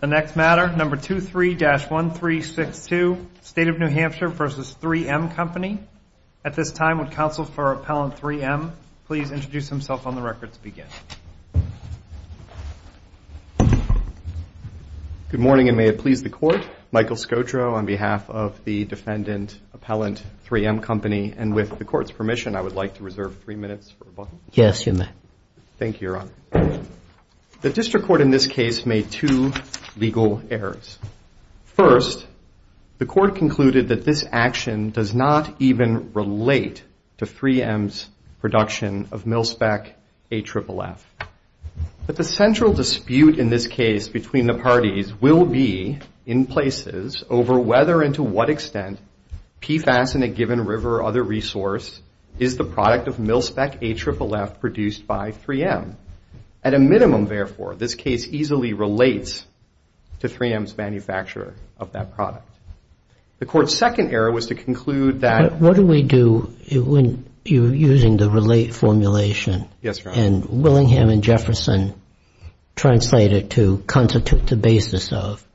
The next matter, number 23-1362, State of New Hampshire v. 3M Company. At this time, would counsel for Appellant 3M please introduce himself on the record to begin. Good morning, and may it please the Court. Michael Scotro on behalf of the defendant, Appellant 3M Company, and with the Court's permission, I would like to reserve three minutes for rebuttal. Yes, you may. Thank you, Your Honor. The District Court in this case made two legal errors. First, the Court concluded that this action does not even relate to 3M's production of MilSpec AFFF. But the central dispute in this case between the parties will be, in places, over whether and to what extent PFAS in a given river or other resource is the product of MilSpec AFFF produced by 3M. At a minimum, therefore, this case easily relates to 3M's manufacture of that product. The Court's second error was to conclude that What do we do when you're using the relate formulation? Yes, Your Honor. And Willingham and Jefferson translate it to constitute the basis of.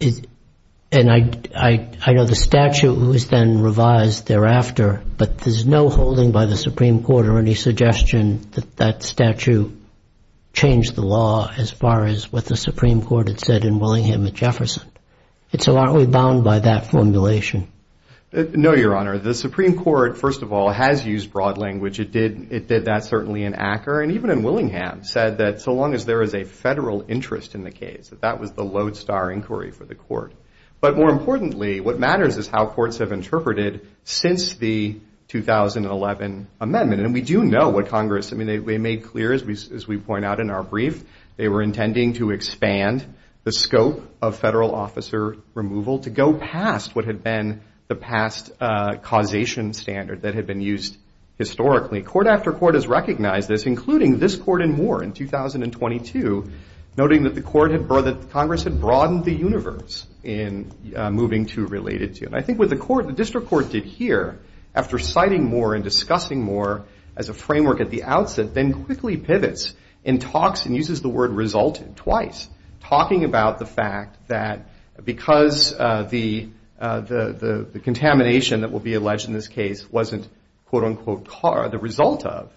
And I know the statute was then revised thereafter, but there's no holding by the Supreme Court or any suggestion that that statute changed the law as far as what the Supreme Court had said in Willingham and Jefferson. And so aren't we bound by that formulation? No, Your Honor. The Supreme Court, first of all, has used broad language. It did that certainly in Acker, and even in Willingham, said that so long as there is a federal interest in the case, that that was the lodestar inquiry for the Court. But more importantly, what matters is how courts have interpreted since the 2011 amendment. And we do know what Congress, I mean, they made clear, as we point out in our brief, they were intending to expand the scope of federal officer removal to go past what had been the past causation standard that had been used historically. Court after court has recognized this, including this court in Moore in 2022, noting that Congress had broadened the universe in moving to related to it. And I think what the district court did here, after citing Moore and discussing Moore as a framework at the outset, then quickly pivots and talks and uses the word resulted twice, talking about the fact that because the contamination that will be alleged in this case wasn't, quote, unquote, the result of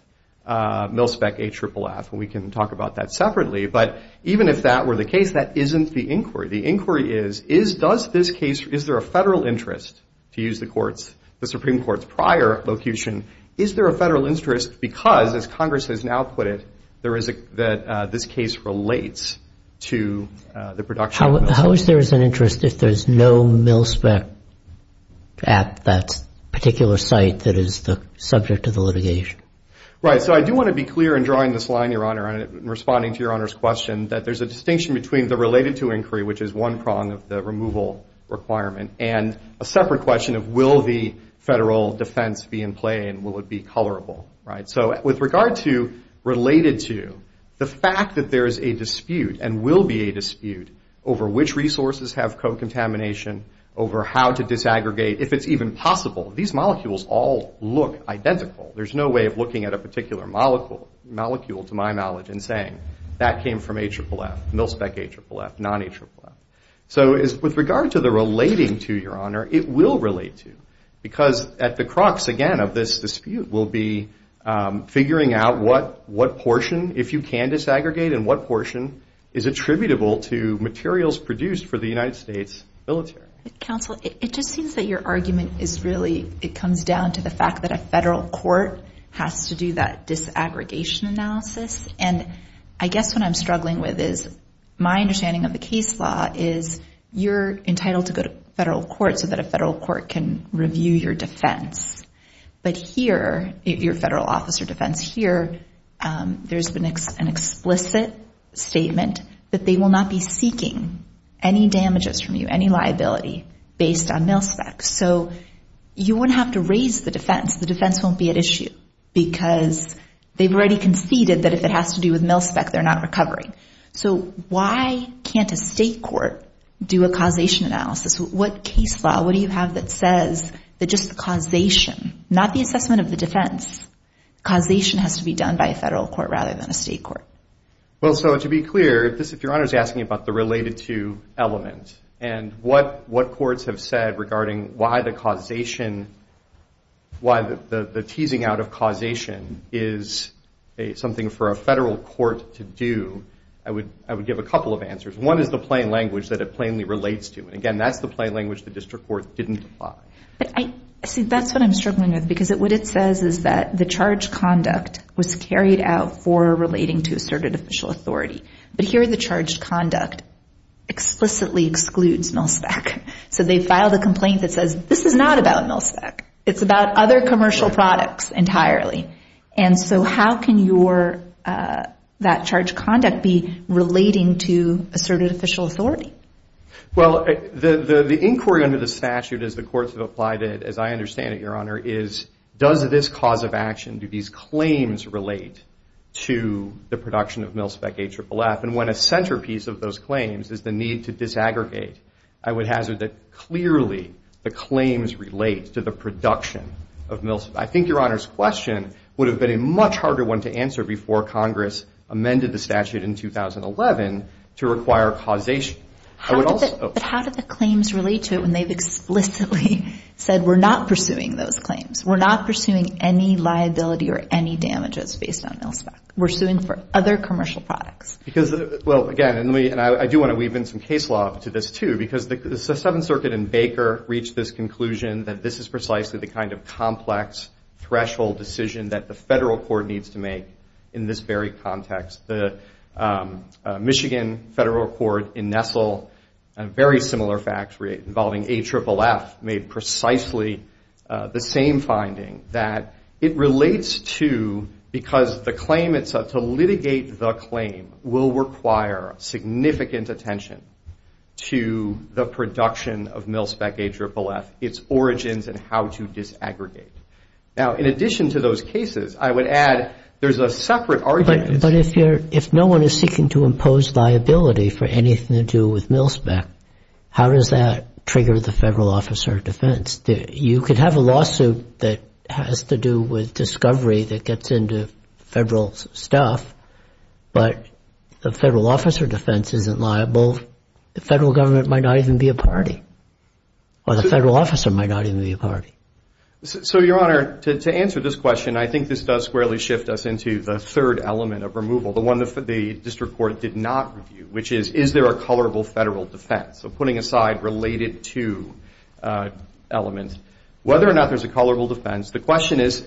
MilSpec AFFF, and we can talk about that separately. But even if that were the case, that isn't the inquiry. The inquiry is, is does this case, is there a federal interest, to use the Supreme Court's prior vocation, is there a federal interest because, as Congress has now put it, that this case relates to the production. How is there an interest if there's no MilSpec at that particular site that is the subject of the litigation? Right. So I do want to be clear in drawing this line, Your Honor, and responding to Your Honor's question, that there's a distinction between the related to inquiry, which is one prong of the removal requirement, and a separate question of will the federal defense be in play and will it be colorable. Right. So with regard to related to, the fact that there is a dispute and will be a dispute over which resources have co-contamination, over how to disaggregate, if it's even possible, these molecules all look identical. There's no way of looking at a particular molecule, to my knowledge, and saying that came from AFFF, MilSpec AFFF, non-AFFF. So with regard to the relating to, Your Honor, it will relate to because at the crux, again, of this dispute will be figuring out what portion, if you can disaggregate, and what portion is attributable to materials produced for the United States military. Counsel, it just seems that your argument is really, it comes down to the fact that a federal court has to do that disaggregation analysis. And I guess what I'm struggling with is my understanding of the case law is you're entitled to go to federal court so that a federal court can review your defense. But here, your federal officer defense here, there's an explicit statement that they will not be seeking any damages from you, any liability based on MilSpec. So you wouldn't have to raise the defense. The defense won't be at issue because they've already conceded that if it has to do with MilSpec, they're not recovering. So why can't a state court do a causation analysis? What case law, what do you have that says that just causation, not the assessment of the defense, causation has to be done by a federal court rather than a state court? Well, so to be clear, if Your Honor is asking about the related to element and what courts have said regarding why the causation, why the teasing out of causation is something for a federal court to do, I would give a couple of answers. One is the plain language that it plainly relates to. And again, that's the plain language the district court didn't apply. See, that's what I'm struggling with because what it says is that the charged conduct was carried out for relating to asserted official authority. But here the charged conduct explicitly excludes MilSpec. So they filed a complaint that says this is not about MilSpec. It's about other commercial products entirely. And so how can that charged conduct be relating to asserted official authority? Well, the inquiry under the statute as the courts have applied it, as I understand it, Your Honor, is does this cause of action, do these claims relate to the production of MilSpec AFFF? And when a centerpiece of those claims is the need to disaggregate, I would hazard that clearly the claims relate to the production of MilSpec. I think Your Honor's question would have been a much harder one to answer before Congress amended the statute in 2011 to require causation. But how do the claims relate to it when they've explicitly said we're not pursuing those claims? We're not pursuing any liability or any damages based on MilSpec. We're suing for other commercial products. Because, well, again, and I do want to weave in some case law to this, too, because the Seventh Circuit in Baker reached this conclusion that this is precisely the kind of complex threshold decision that the federal court needs to make in this very context. The Michigan federal court in Nestle, a very similar fact involving AFFF, made precisely the same finding that it relates to because the claim itself, to litigate the claim will require significant attention to the production of MilSpec AFFF, its origins and how to disaggregate. Now, in addition to those cases, I would add there's a separate argument. But if no one is seeking to impose liability for anything to do with MilSpec, you could have a lawsuit that has to do with discovery that gets into federal stuff. But the federal officer defense isn't liable. The federal government might not even be a party. Or the federal officer might not even be a party. So, Your Honor, to answer this question, I think this does squarely shift us into the third element of removal, the one the district court did not review, which is, is there a colorable federal defense? So, putting aside related to elements, whether or not there's a colorable defense, the question is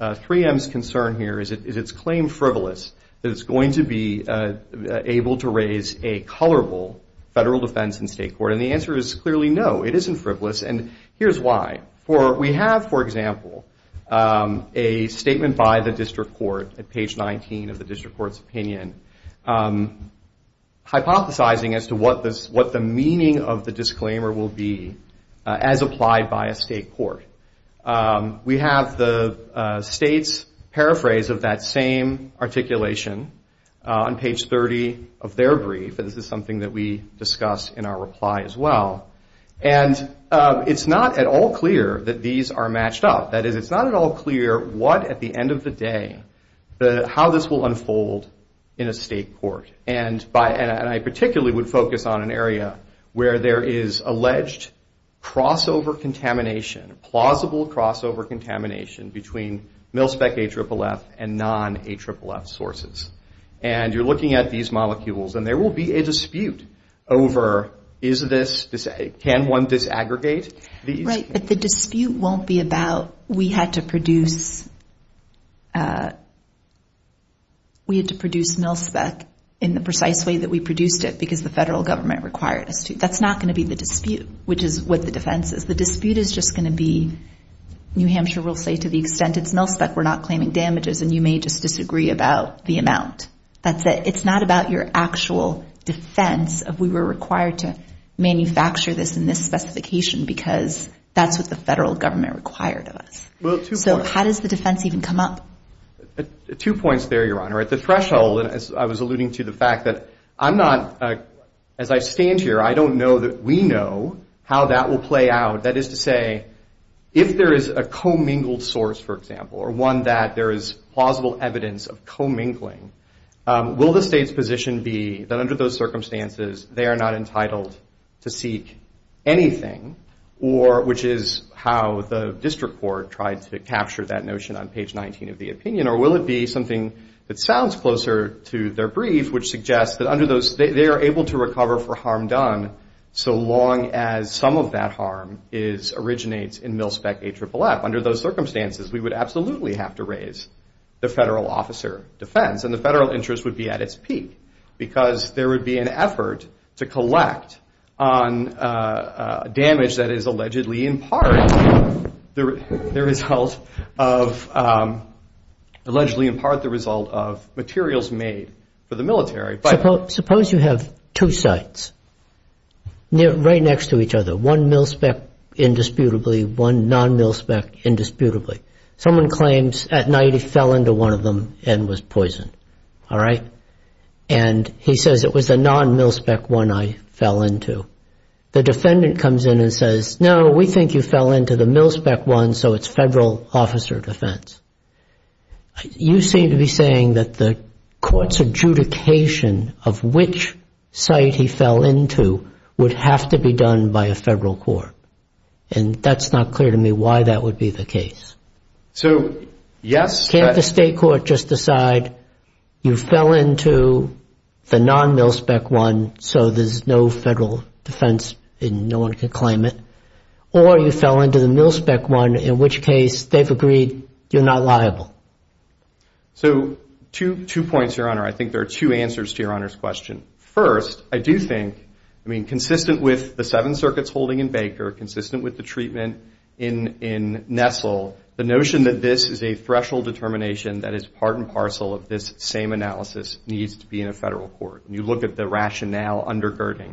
3M's concern here, is its claim frivolous? Is it going to be able to raise a colorable federal defense in state court? And the answer is clearly no. It isn't frivolous. And here's why. We have, for example, a statement by the district court at page 19 of the district court's opinion, hypothesizing as to what the meaning of the disclaimer will be as applied by a state court. We have the state's paraphrase of that same articulation on page 30 of their brief, and this is something that we discuss in our reply as well. And it's not at all clear that these are matched up. That is, it's not at all clear what, at the end of the day, how this will unfold in a state court. And I particularly would focus on an area where there is alleged crossover contamination, plausible crossover contamination between MilSpec AFFF and non-AFFF sources. And you're looking at these molecules, and there will be a dispute over, is this, can one disaggregate? Right, but the dispute won't be about we had to produce MilSpec in the precise way that we produced it because the federal government required us to. That's not going to be the dispute, which is what the defense is. The dispute is just going to be New Hampshire will say to the extent it's MilSpec, we're not claiming damages, and you may just disagree about the amount. That's it. It's not about your actual defense of we were required to manufacture this in this specification because that's what the federal government required of us. So how does the defense even come up? Two points there, Your Honor. At the threshold, and as I was alluding to the fact that I'm not, as I stand here, I don't know that we know how that will play out. That is to say, if there is a commingled source, for example, or one that there is plausible evidence of commingling, will the state's position be that under those circumstances, they are not entitled to seek anything, which is how the district court tried to capture that notion on page 19 of the opinion, or will it be something that sounds closer to their brief, which suggests that under those, they are able to recover for harm done so long as some of that harm originates in MilSpec AFFF. Under those circumstances, we would absolutely have to raise the federal officer defense and the federal interest would be at its peak because there would be an effort to collect on damage that is allegedly in part the result of, allegedly in part the result of materials made for the military. Suppose you have two sites right next to each other, one MilSpec indisputably, one non-MilSpec indisputably. Someone claims at night he fell into one of them and was poisoned, all right? And he says, it was a non-MilSpec one I fell into. The defendant comes in and says, no, we think you fell into the MilSpec one, so it's federal officer defense. You seem to be saying that the court's adjudication of which site he fell into would have to be done by a federal court. And that's not clear to me why that would be the case. So, yes. Can't the state court just decide you fell into the non-MilSpec one so there's no federal defense and no one can claim it? Or you fell into the MilSpec one, in which case they've agreed you're not liable. So, two points, Your Honor. I think there are two answers to Your Honor's question. First, I do think, I mean, consistent with the Seven Circuits holding in Baker, consistent with the treatment in Nestle, the notion that this is a threshold determination that is part and parcel of this same analysis needs to be in a federal court. And you look at the rationale undergirding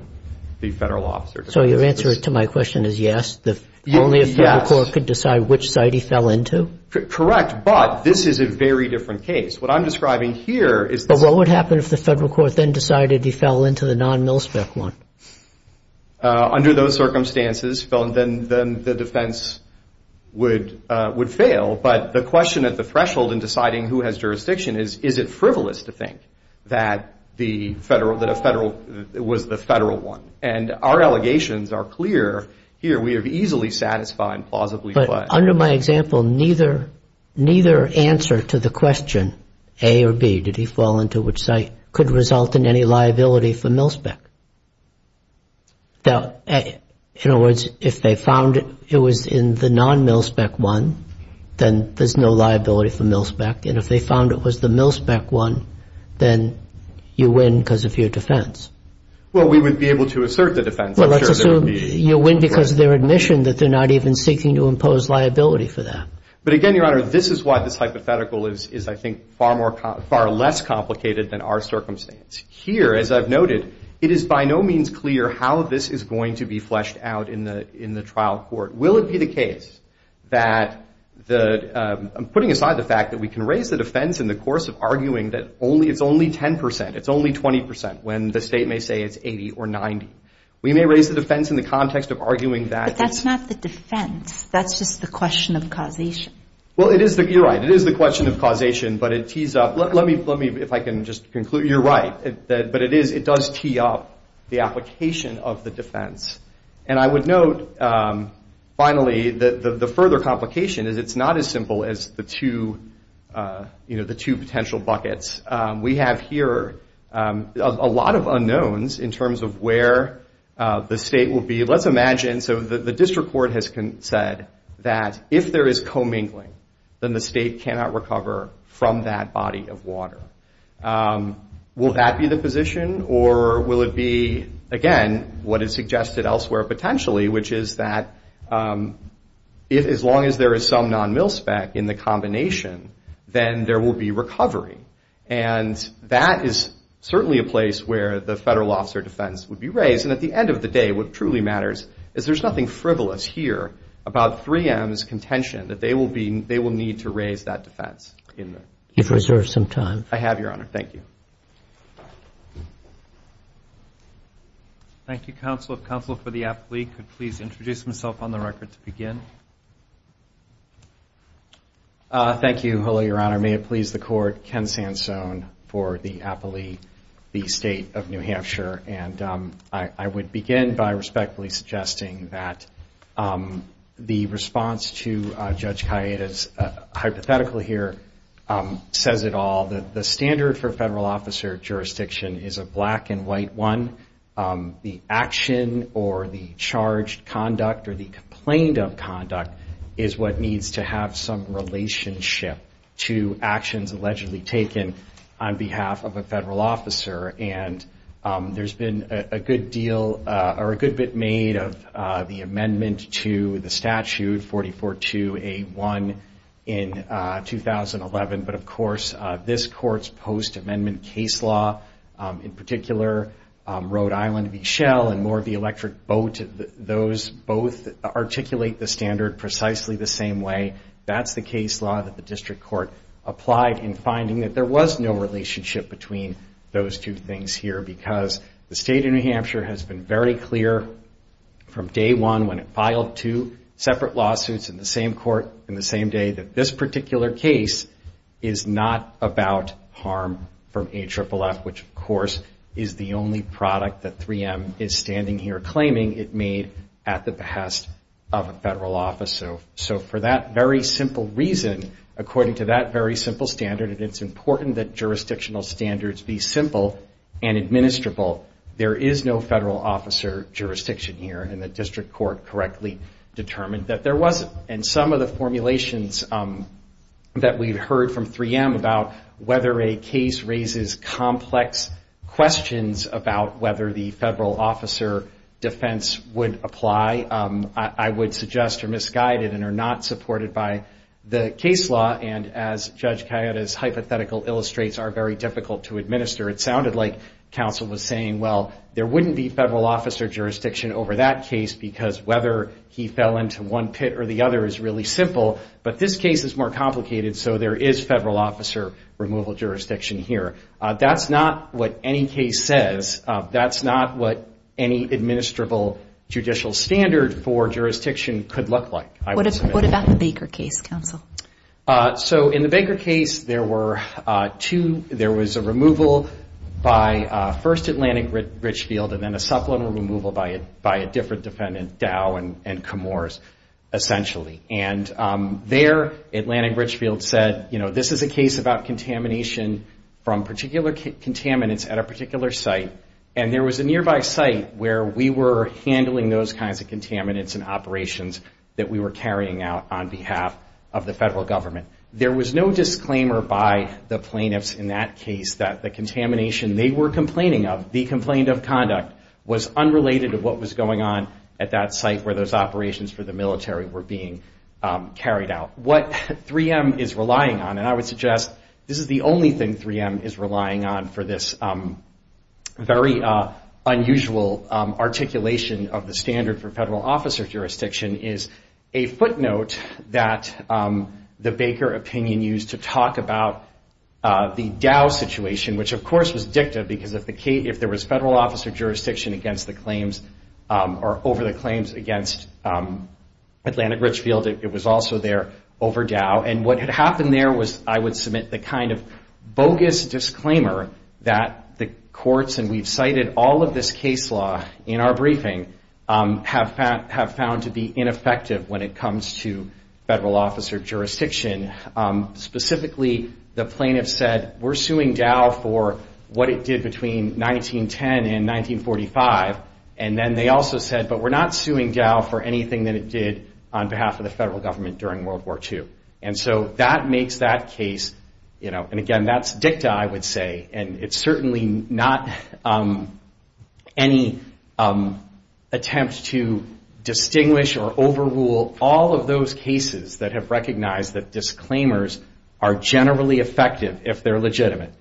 the federal officer defense. So your answer to my question is yes? Yes. Only a federal court could decide which site he fell into? Correct, but this is a very different case. What I'm describing here is this. What would happen if the federal court then decided he fell into the non-MilSpec one? Under those circumstances, then the defense would fail. But the question at the threshold in deciding who has jurisdiction is, is it frivolous to think that a federal was the federal one? And our allegations are clear here. We have easily satisfied and plausibly fled. Under my example, neither answer to the question, A or B, did he fall into which site, could result in any liability for MilSpec. In other words, if they found it was in the non-MilSpec one, then there's no liability for MilSpec. And if they found it was the MilSpec one, then you win because of your defense. Well, we would be able to assert the defense. Well, let's assume you win because of their admission that they're not even seeking to impose liability for that. But again, Your Honor, this is why this hypothetical is, I think, far less complicated than our circumstance. Here, as I've noted, it is by no means clear how this is going to be fleshed out in the trial court. Will it be the case that, putting aside the fact that we can raise the defense in the course of arguing that it's only 10 percent, it's only 20 percent, when the state may say it's 80 or 90. We may raise the defense in the context of arguing that it's- But that's not the defense. That's just the question of causation. Well, you're right. It is the question of causation, but it tees up. Let me, if I can just conclude. You're right. But it does tee up the application of the defense. And I would note, finally, the further complication is it's not as simple as the two potential buckets. We have here a lot of unknowns in terms of where the state will be. Let's imagine, so the district court has said that if there is commingling, then the state cannot recover from that body of water. Will that be the position, or will it be, again, what is suggested elsewhere potentially, which is that as long as there is some non-mil spec in the combination, then there will be recovery. And that is certainly a place where the federal officer defense would be raised. And at the end of the day, what truly matters is there's nothing frivolous here about 3M's contention, that they will need to raise that defense. You've reserved some time. Thank you. Thank you, Counsel. Counsel for the appellee could please introduce himself on the record to begin. Thank you. Hello, Your Honor. May it please the Court. Ken Sansone for the appellee, the State of New Hampshire. And I would begin by respectfully suggesting that the response to Judge Kayeda's hypothetical here says it all. The standard for federal officer jurisdiction is a black and white one. The action or the charged conduct or the complaint of conduct is what needs to have some relationship to actions allegedly taken on behalf of a federal officer. And there's been a good deal or a good bit made of the amendment to the statute 44-2A-1 in 2011. But, of course, this Court's post-amendment case law, in particular, Rhode Island v. Shell and Moore v. Electric Boat, those both articulate the standard precisely the same way. That's the case law that the District Court applied in finding that there was no relationship between those two things here because the State of New Hampshire has been very clear from day one when it filed two separate lawsuits in the same court and the same day that this particular case is not about harm from AFFF, which, of course, is the only product that 3M is standing here claiming it made at the behest of a federal officer. So for that very simple reason, according to that very simple standard, and it's important that jurisdictional standards be simple and administrable, there is no federal officer jurisdiction here, and the District Court correctly determined that there wasn't. And some of the formulations that we've heard from 3M about whether a case raises complex questions about whether the federal officer defense would apply, I would suggest are misguided and are not supported by the case law. And as Judge Cayetta's hypothetical illustrates, are very difficult to administer. It sounded like counsel was saying, well, there wouldn't be federal officer jurisdiction over that case because whether he fell into one pit or the other is really simple, but this case is more complicated, so there is federal officer removal jurisdiction here. That's not what any case says. That's not what any administrable judicial standard for jurisdiction could look like. What about the Baker case, counsel? So in the Baker case, there were two. There was a removal by first Atlantic Richfield, and then a supplemental removal by a different defendant, Dow and Camores, essentially. And there, Atlantic Richfield said, you know, this is a case about contamination from particular contaminants at a particular site, and there was a nearby site where we were handling those kinds of contaminants and operations that we were carrying out on behalf of the federal government. There was no disclaimer by the plaintiffs in that case that the contamination they were complaining of, the complaint of conduct, was unrelated to what was going on at that site where those operations for the military were being carried out. What 3M is relying on, and I would suggest this is the only thing 3M is relying on for this very unusual articulation of the standard for federal officer jurisdiction, is a footnote that the Baker opinion used to talk about the Dow situation, which of course was dicta because if there was federal officer jurisdiction over the claims against Atlantic Richfield, it was also there over Dow. And what had happened there was I would submit the kind of bogus disclaimer that the courts, and we've cited all of this case law in our briefing, have found to be ineffective when it comes to federal officer jurisdiction. Specifically, the plaintiffs said, we're suing Dow for what it did between 1910 and 1945. And then they also said, but we're not suing Dow for anything that it did on behalf of the federal government during World War II. And so that makes that case, and again, that's dicta, I would say, and it's certainly not any attempt to distinguish or overrule all of those cases that have recognized that disclaimers are generally effective if they're legitimate.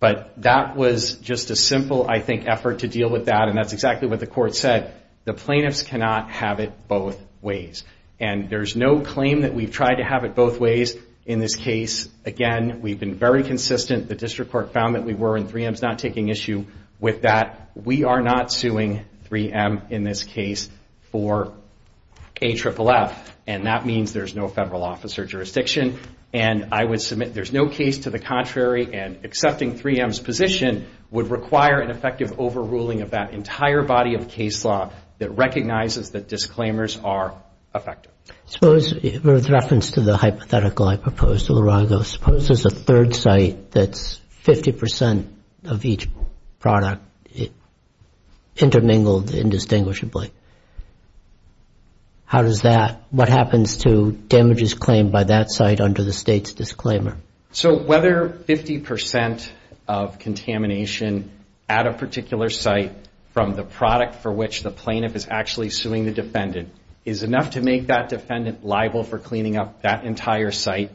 But that was just a simple, I think, effort to deal with that, and that's exactly what the court said. The plaintiffs cannot have it both ways. And there's no claim that we've tried to have it both ways in this case. Again, we've been very consistent. The district court found that we were, and 3M's not taking issue with that. We are not suing 3M in this case for AFFF, and that means there's no federal officer jurisdiction. And I would submit there's no case to the contrary, and accepting 3M's position would require an effective overruling of that entire body of case law that recognizes that disclaimers are effective. Suppose, with reference to the hypothetical I proposed to Lurago, suppose there's a third site that's 50% of each product intermingled indistinguishably. How does that, what happens to damages claimed by that site under the state's disclaimer? So whether 50% of contamination at a particular site from the product for which the plaintiff is actually suing the defendant is enough to make that defendant liable for cleaning up that entire site,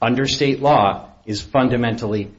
under state law is fundamentally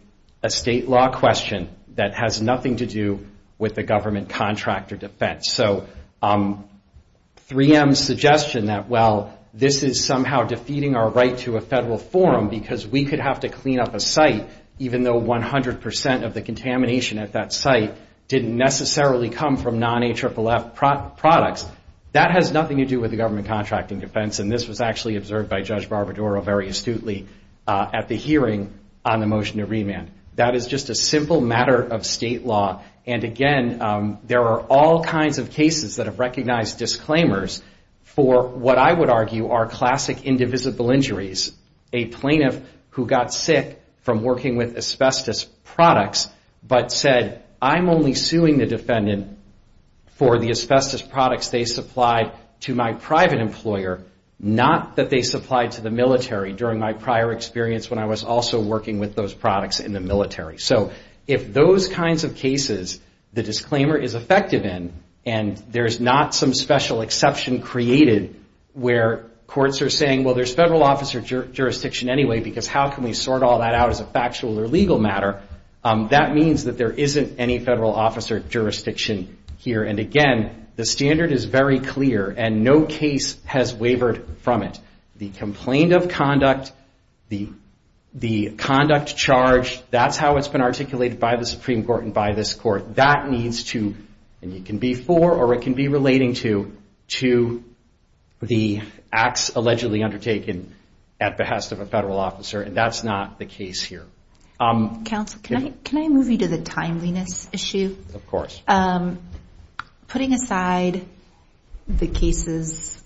a state law question that has nothing to do with the government contract or defense. So 3M's suggestion that, well, this is somehow defeating our right to a federal forum because we could have to clean up a site even though 100% of the contamination at that site didn't necessarily come from non-AFFF products, that has nothing to do with the government contract and defense, and this was actually observed by Judge Barbaduro very astutely at the hearing on the motion to remand. That is just a simple matter of state law. And again, there are all kinds of cases that have recognized disclaimers for what I would argue are classic indivisible injuries. A plaintiff who got sick from working with asbestos products but said, I'm only suing the defendant for the asbestos products they supplied to my private employer, not that they supplied to the military during my prior experience when I was also working with those products in the military. So if those kinds of cases the disclaimer is effective in and there's not some special exception created where courts are saying, well, there's federal officer jurisdiction anyway because how can we sort all that out as a factual or legal matter? That means that there isn't any federal officer jurisdiction here. And again, the standard is very clear and no case has wavered from it. The complaint of conduct, the conduct charge, that's how it's been articulated by the Supreme Court and by this court. That needs to, and it can be for or it can be relating to, to the acts allegedly undertaken at behest of a federal officer, and that's not the case here. Counsel, can I move you to the timeliness issue? Of course. Putting aside the cases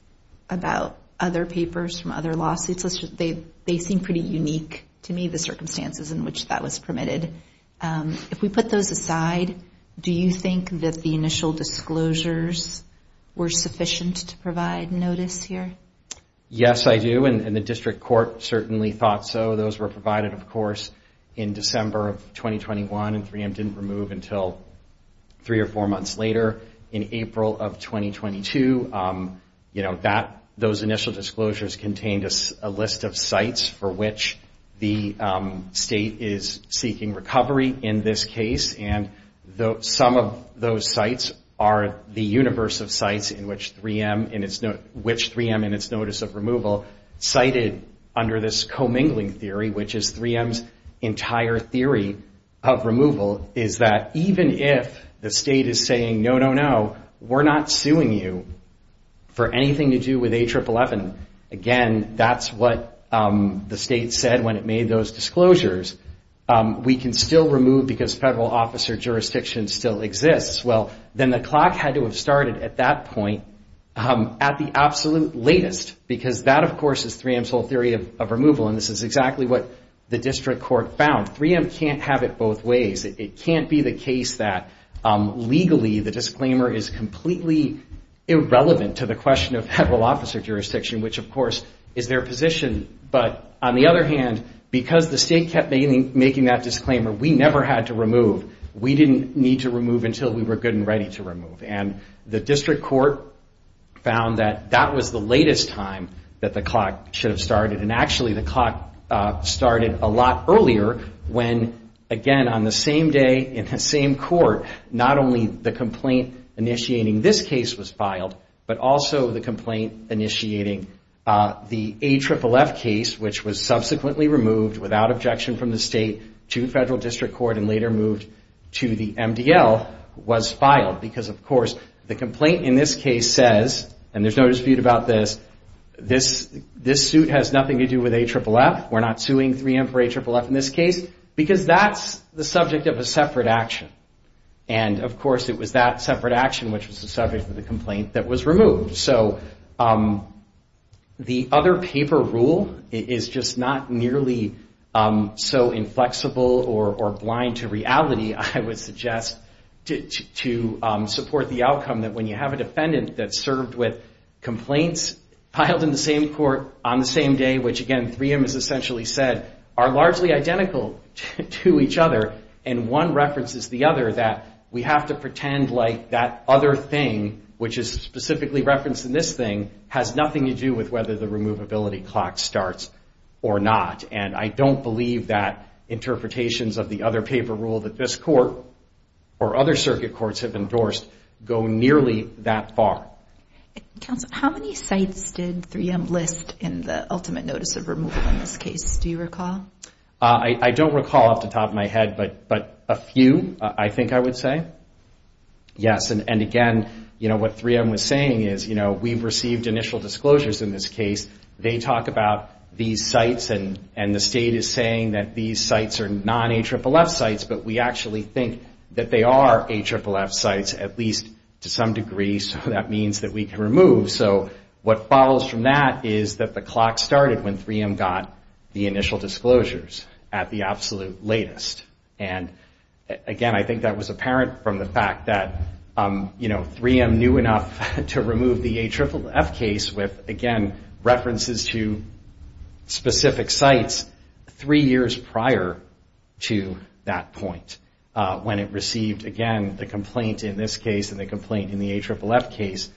about other papers from other lawsuits, they seem pretty unique to me, the circumstances in which that was permitted. If we put those aside, do you think that the initial disclosures were sufficient to provide notice here? Yes, I do, and the district court certainly thought so. Those were provided, of course, in December of 2021 and 3M didn't remove until three or four months later. In April of 2022, those initial disclosures contained a list of sites for which the state is seeking recovery in this case, and some of those sites are the universe of sites in which 3M in its notice of removal cited under this commingling theory, which is 3M's entire theory of removal, is that even if the state is saying, no, no, no, we're not suing you for anything to do with A111, again, that's what the state said when it made those disclosures. We can still remove because federal officer jurisdiction still exists. Well, then the clock had to have started at that point at the absolute latest, because that, of course, is 3M's whole theory of removal, and this is exactly what the district court found. 3M can't have it both ways. It can't be the case that legally the disclaimer is completely irrelevant to the question of federal officer jurisdiction, which, of course, is their position. But on the other hand, because the state kept making that disclaimer, we never had to remove. We didn't need to remove until we were good and ready to remove, and the district court found that that was the latest time that the clock should have started, and actually the clock started a lot earlier when, again, on the same day in the same court, not only the complaint initiating this case was filed, but also the complaint initiating the AFFF case, which was subsequently removed without objection from the state to federal district court and later moved to the MDL, was filed because, of course, the complaint in this case says, and there's no dispute about this, this suit has nothing to do with AFFF, we're not suing 3M for AFFF in this case, because that's the subject of a separate action. And, of course, it was that separate action, which was the subject of the complaint, that was removed. So the other paper rule is just not nearly so inflexible or blind to reality, I would suggest, to support the outcome that when you have a defendant that served with complaints filed in the same court on the same day, which, again, 3M has essentially said, are largely identical to each other, and one references the other that we have to pretend like that other thing, which is specifically referenced in this thing, has nothing to do with whether the removability clock starts or not. And I don't believe that interpretations of the other paper rule that this court or other circuit courts have endorsed go nearly that far. Counsel, how many sites did 3M list in the ultimate notice of removal in this case, do you recall? I don't recall off the top of my head, but a few, I think I would say. Yes, and again, you know, what 3M was saying is, you know, we've received initial disclosures in this case, they talk about these sites and the state is saying that these sites are non-AFFF sites, but we actually think that they are AFFF sites, at least to some degree, so that means that we can remove. So what follows from that is that the clock started when 3M got the initial disclosures at the absolute latest. And again, I think that was apparent from the fact that, you know, 3M knew enough to remove the AFFF case with, again, references to specific sites three years prior to that point, when it received, again, the complaint in this case and the complaint in the AFFF case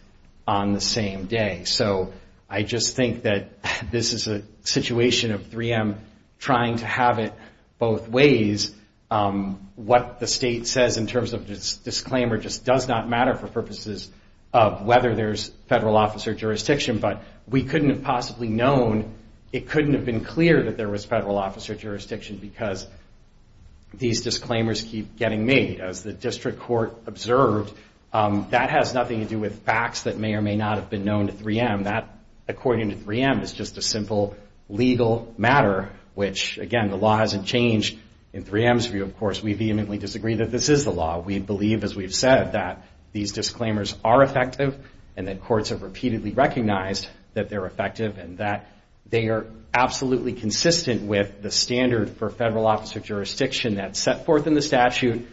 on the same day. So I just think that this is a situation of 3M trying to have it both ways. What the state says in terms of disclaimer just does not matter for purposes of whether there's federal office or jurisdiction, but we couldn't have possibly known, it couldn't have been clear that there was federal office or jurisdiction because these disclaimers keep getting made. As the district court observed, that has nothing to do with facts that may or may not have been known to 3M. That, according to 3M, is just a simple legal matter, which, again, the law hasn't changed. In 3M's view, of course, we vehemently disagree that this is the law. We believe, as we've said, that these disclaimers are effective and that courts have repeatedly recognized that they're effective and that they are absolutely consistent with the standard for federal office or jurisdiction that's set forth in the statute,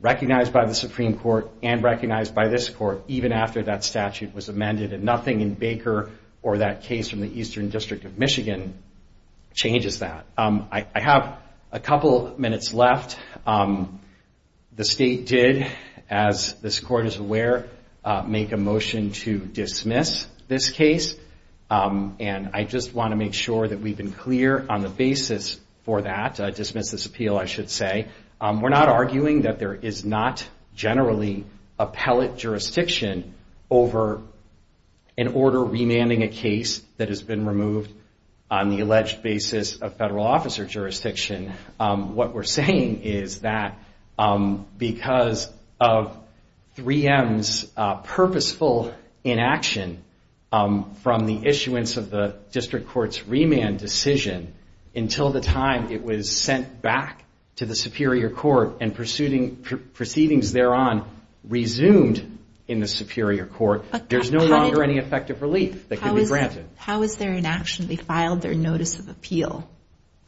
recognized by the Supreme Court, and recognized by this court, even after that statute was amended, and nothing in Baker or that case from the Eastern District of Michigan changes that. I have a couple minutes left. The state did, as this court is aware, make a motion to dismiss this case, and I just want to make sure that we've been clear on the basis for that, dismiss this appeal, I should say. We're not arguing that there is not generally appellate jurisdiction over an order remanding a case that has been removed on the alleged basis of federal officer jurisdiction. What we're saying is that because of 3M's purposeful inaction from the issuance of the District Court's remand decision, until the time it was sent back to the Superior Court and proceedings thereon resumed in the Superior Court, there's no longer any effective relief that can be granted. How was their inaction? They filed their notice of appeal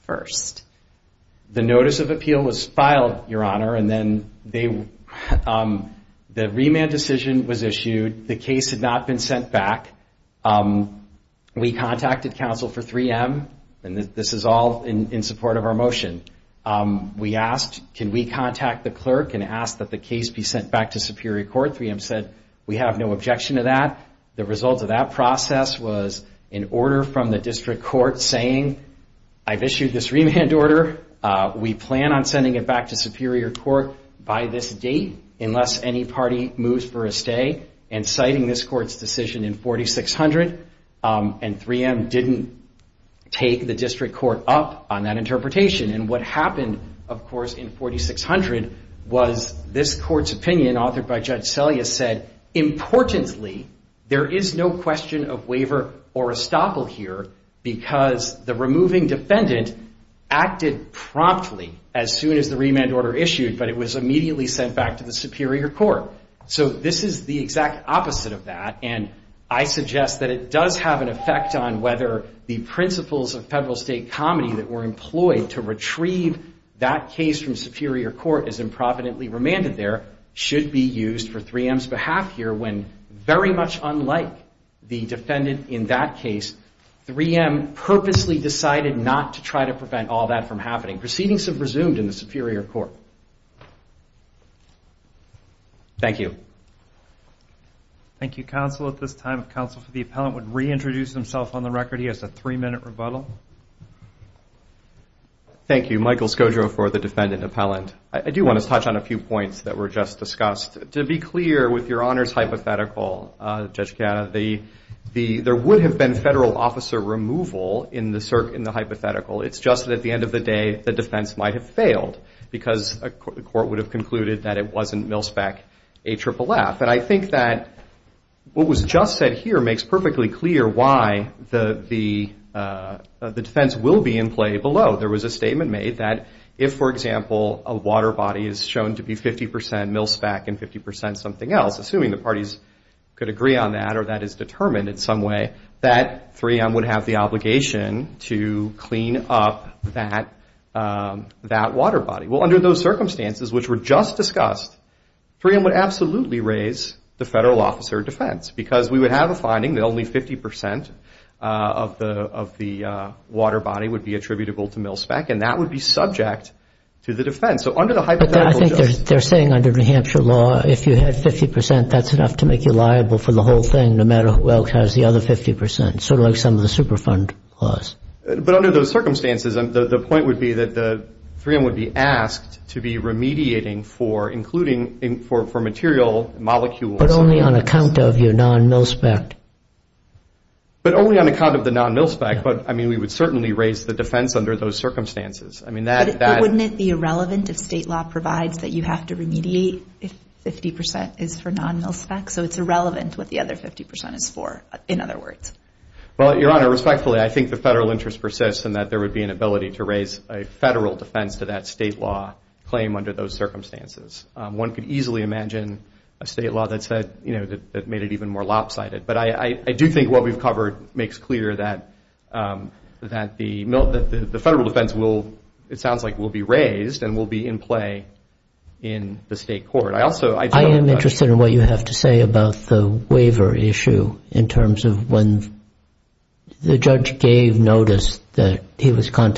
first. The notice of appeal was filed, Your Honor, and then the remand decision was issued. The case had not been sent back. We contacted counsel for 3M, and this is all in support of our motion. We asked, can we contact the clerk and ask that the case be sent back to Superior Court? 3M said, we have no objection to that. The result of that process was an order from the District Court saying, I've issued this remand order. We plan on sending it back to Superior Court by this date unless any party moves for a stay, and citing this Court's decision in 4600, and 3M didn't take the District Court up on that interpretation. And what happened, of course, in 4600 was this Court's opinion authored by Judge Selyus said, importantly, there is no question of waiver or estoppel here because the removing defendant acted promptly as soon as the remand order issued, but it was immediately sent back to the Superior Court. So this is the exact opposite of that, and I suggest that it does have an effect on whether the principles of federal state comedy that were employed to retrieve that case from Superior Court as improvidently remanded there should be used for 3M's behalf here when very much unlike the defendant in that case, 3M purposely decided not to try to prevent all that from happening. Proceedings have resumed in the Superior Court. Thank you. Thank you, counsel. At this time, counsel for the appellant would reintroduce himself on the record. He has a three-minute rebuttal. Thank you. Michael Scoggio for the defendant appellant. I do want to touch on a few points that were just discussed. To be clear, with your Honor's hypothetical, Judge Kanna, there would have been federal officer removal in the hypothetical. It's just that at the end of the day, the defense might have failed because the Court would have concluded that it wasn't Milspec AFFF. And I think that what was just said here makes perfectly clear why the defense will be in play below. There was a statement made that if, for example, a water body is shown to be 50% Milspec and 50% something else, assuming the parties could agree on that or that is determined in some way, that 3M would have the obligation to clean up that water body. Well, under those circumstances, which were just discussed, 3M would absolutely raise the federal officer defense because we would have a finding that only 50% of the water body would be attributable to Milspec, and that would be subject to the defense. So under the hypothetical, Judge. But I think they're saying under New Hampshire law, if you had 50%, that's enough to make you liable for the whole thing, no matter who else has the other 50%, sort of like some of the Superfund laws. But under those circumstances, the point would be that 3M would be asked to be remediating for material molecules. But only on account of your non-Milspec. But only on account of the non-Milspec. But, I mean, we would certainly raise the defense under those circumstances. But wouldn't it be irrelevant if state law provides that you have to remediate if 50% is for non-Milspec? So it's irrelevant what the other 50% is for, in other words. Well, Your Honor, respectfully, I think the federal interest persists in that there would be an ability to raise a federal defense to that state law claim under those circumstances. One could easily imagine a state law that made it even more lopsided. But I do think what we've covered makes clear that the federal defense, it sounds like, will be raised and will be in play in the state court. I am interested in what you have to say about the waiver issue in terms of when the judge gave notice that he was going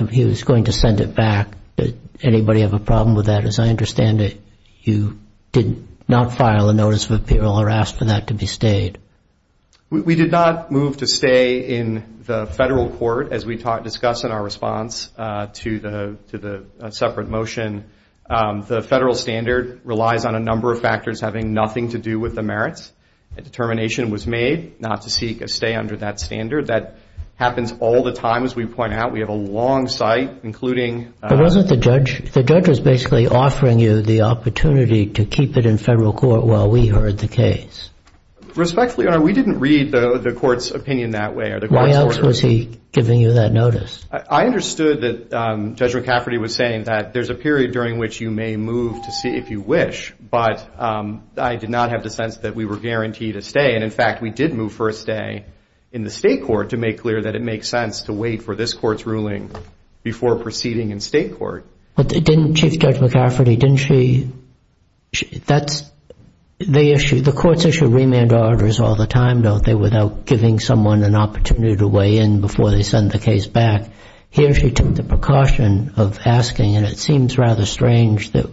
to send it back. Did anybody have a problem with that? As I understand it, you did not file a notice of appeal or ask for that to be stayed. We did not move to stay in the federal court, as we discuss in our response to the separate motion. The federal standard relies on a number of factors having nothing to do with the merits. A determination was made not to seek a stay under that standard. That happens all the time, as we point out. We have a long site, including- The judge was basically offering you the opportunity to keep it in federal court while we heard the case. Respectfully, Your Honor, we didn't read the court's opinion that way. Why else was he giving you that notice? I understood that Judge McCafferty was saying that there's a period during which you may move to see if you wish, but I did not have the sense that we were guaranteed a stay. In fact, we did move for a stay in the state court to make clear that it makes sense to wait for this court's ruling before proceeding in state court. But didn't Chief Judge McCafferty, didn't she- The courts issue remand orders all the time, don't they, without giving someone an opportunity to weigh in before they send the case back? Here she took the precaution of asking, and it seems rather strange that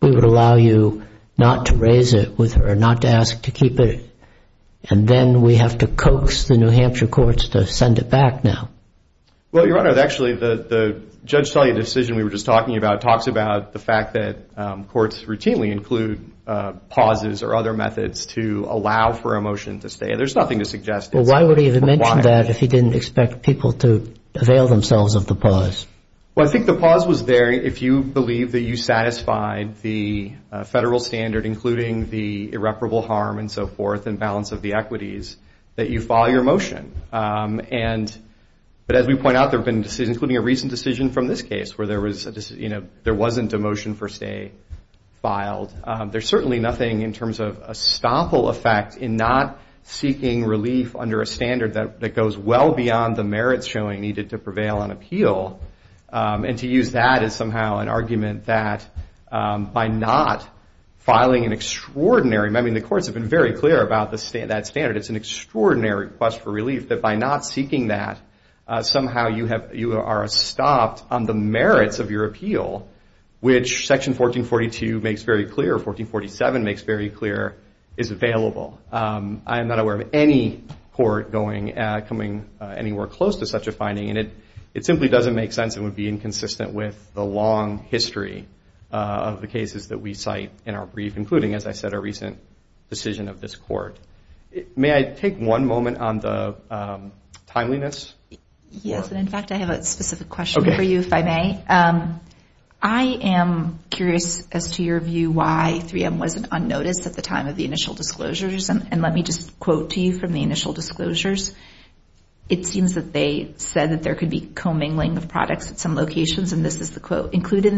we would allow you not to raise it with her, not to ask to keep it, and then we have to coax the New Hampshire courts to send it back now. Well, Your Honor, actually the Judge Tully decision we were just talking about talks about the fact that courts routinely include pauses or other methods to allow for a motion to stay. There's nothing to suggest- Well, why would he have mentioned that if he didn't expect people to avail themselves of the pause? Well, I think the pause was there if you believe that you satisfied the federal standard, including the irreparable harm and so forth and balance of the equities, that you file your motion. But as we point out, there have been decisions, including a recent decision from this case, where there wasn't a motion for stay filed. There's certainly nothing in terms of a stopple effect in not seeking relief under a standard that goes well beyond the merits showing needed to prevail on appeal, and to use that as somehow an argument that by not filing an extraordinary- I mean, the courts have been very clear about that standard. It's an extraordinary request for relief that by not seeking that, somehow you are stopped on the merits of your appeal, which Section 1442 makes very clear or 1447 makes very clear is available. I am not aware of any court coming anywhere close to such a finding, and it simply doesn't make sense and would be inconsistent with the long history of the cases that we cite in our brief, including, as I said, a recent decision of this court. May I take one moment on the timeliness? Yes, and in fact, I have a specific question for you, if I may. I am curious as to your view why 3M wasn't on notice at the time of the initial disclosures, and let me just quote to you from the initial disclosures. It seems that they said that there could be commingling of products at some locations, and this is the quote.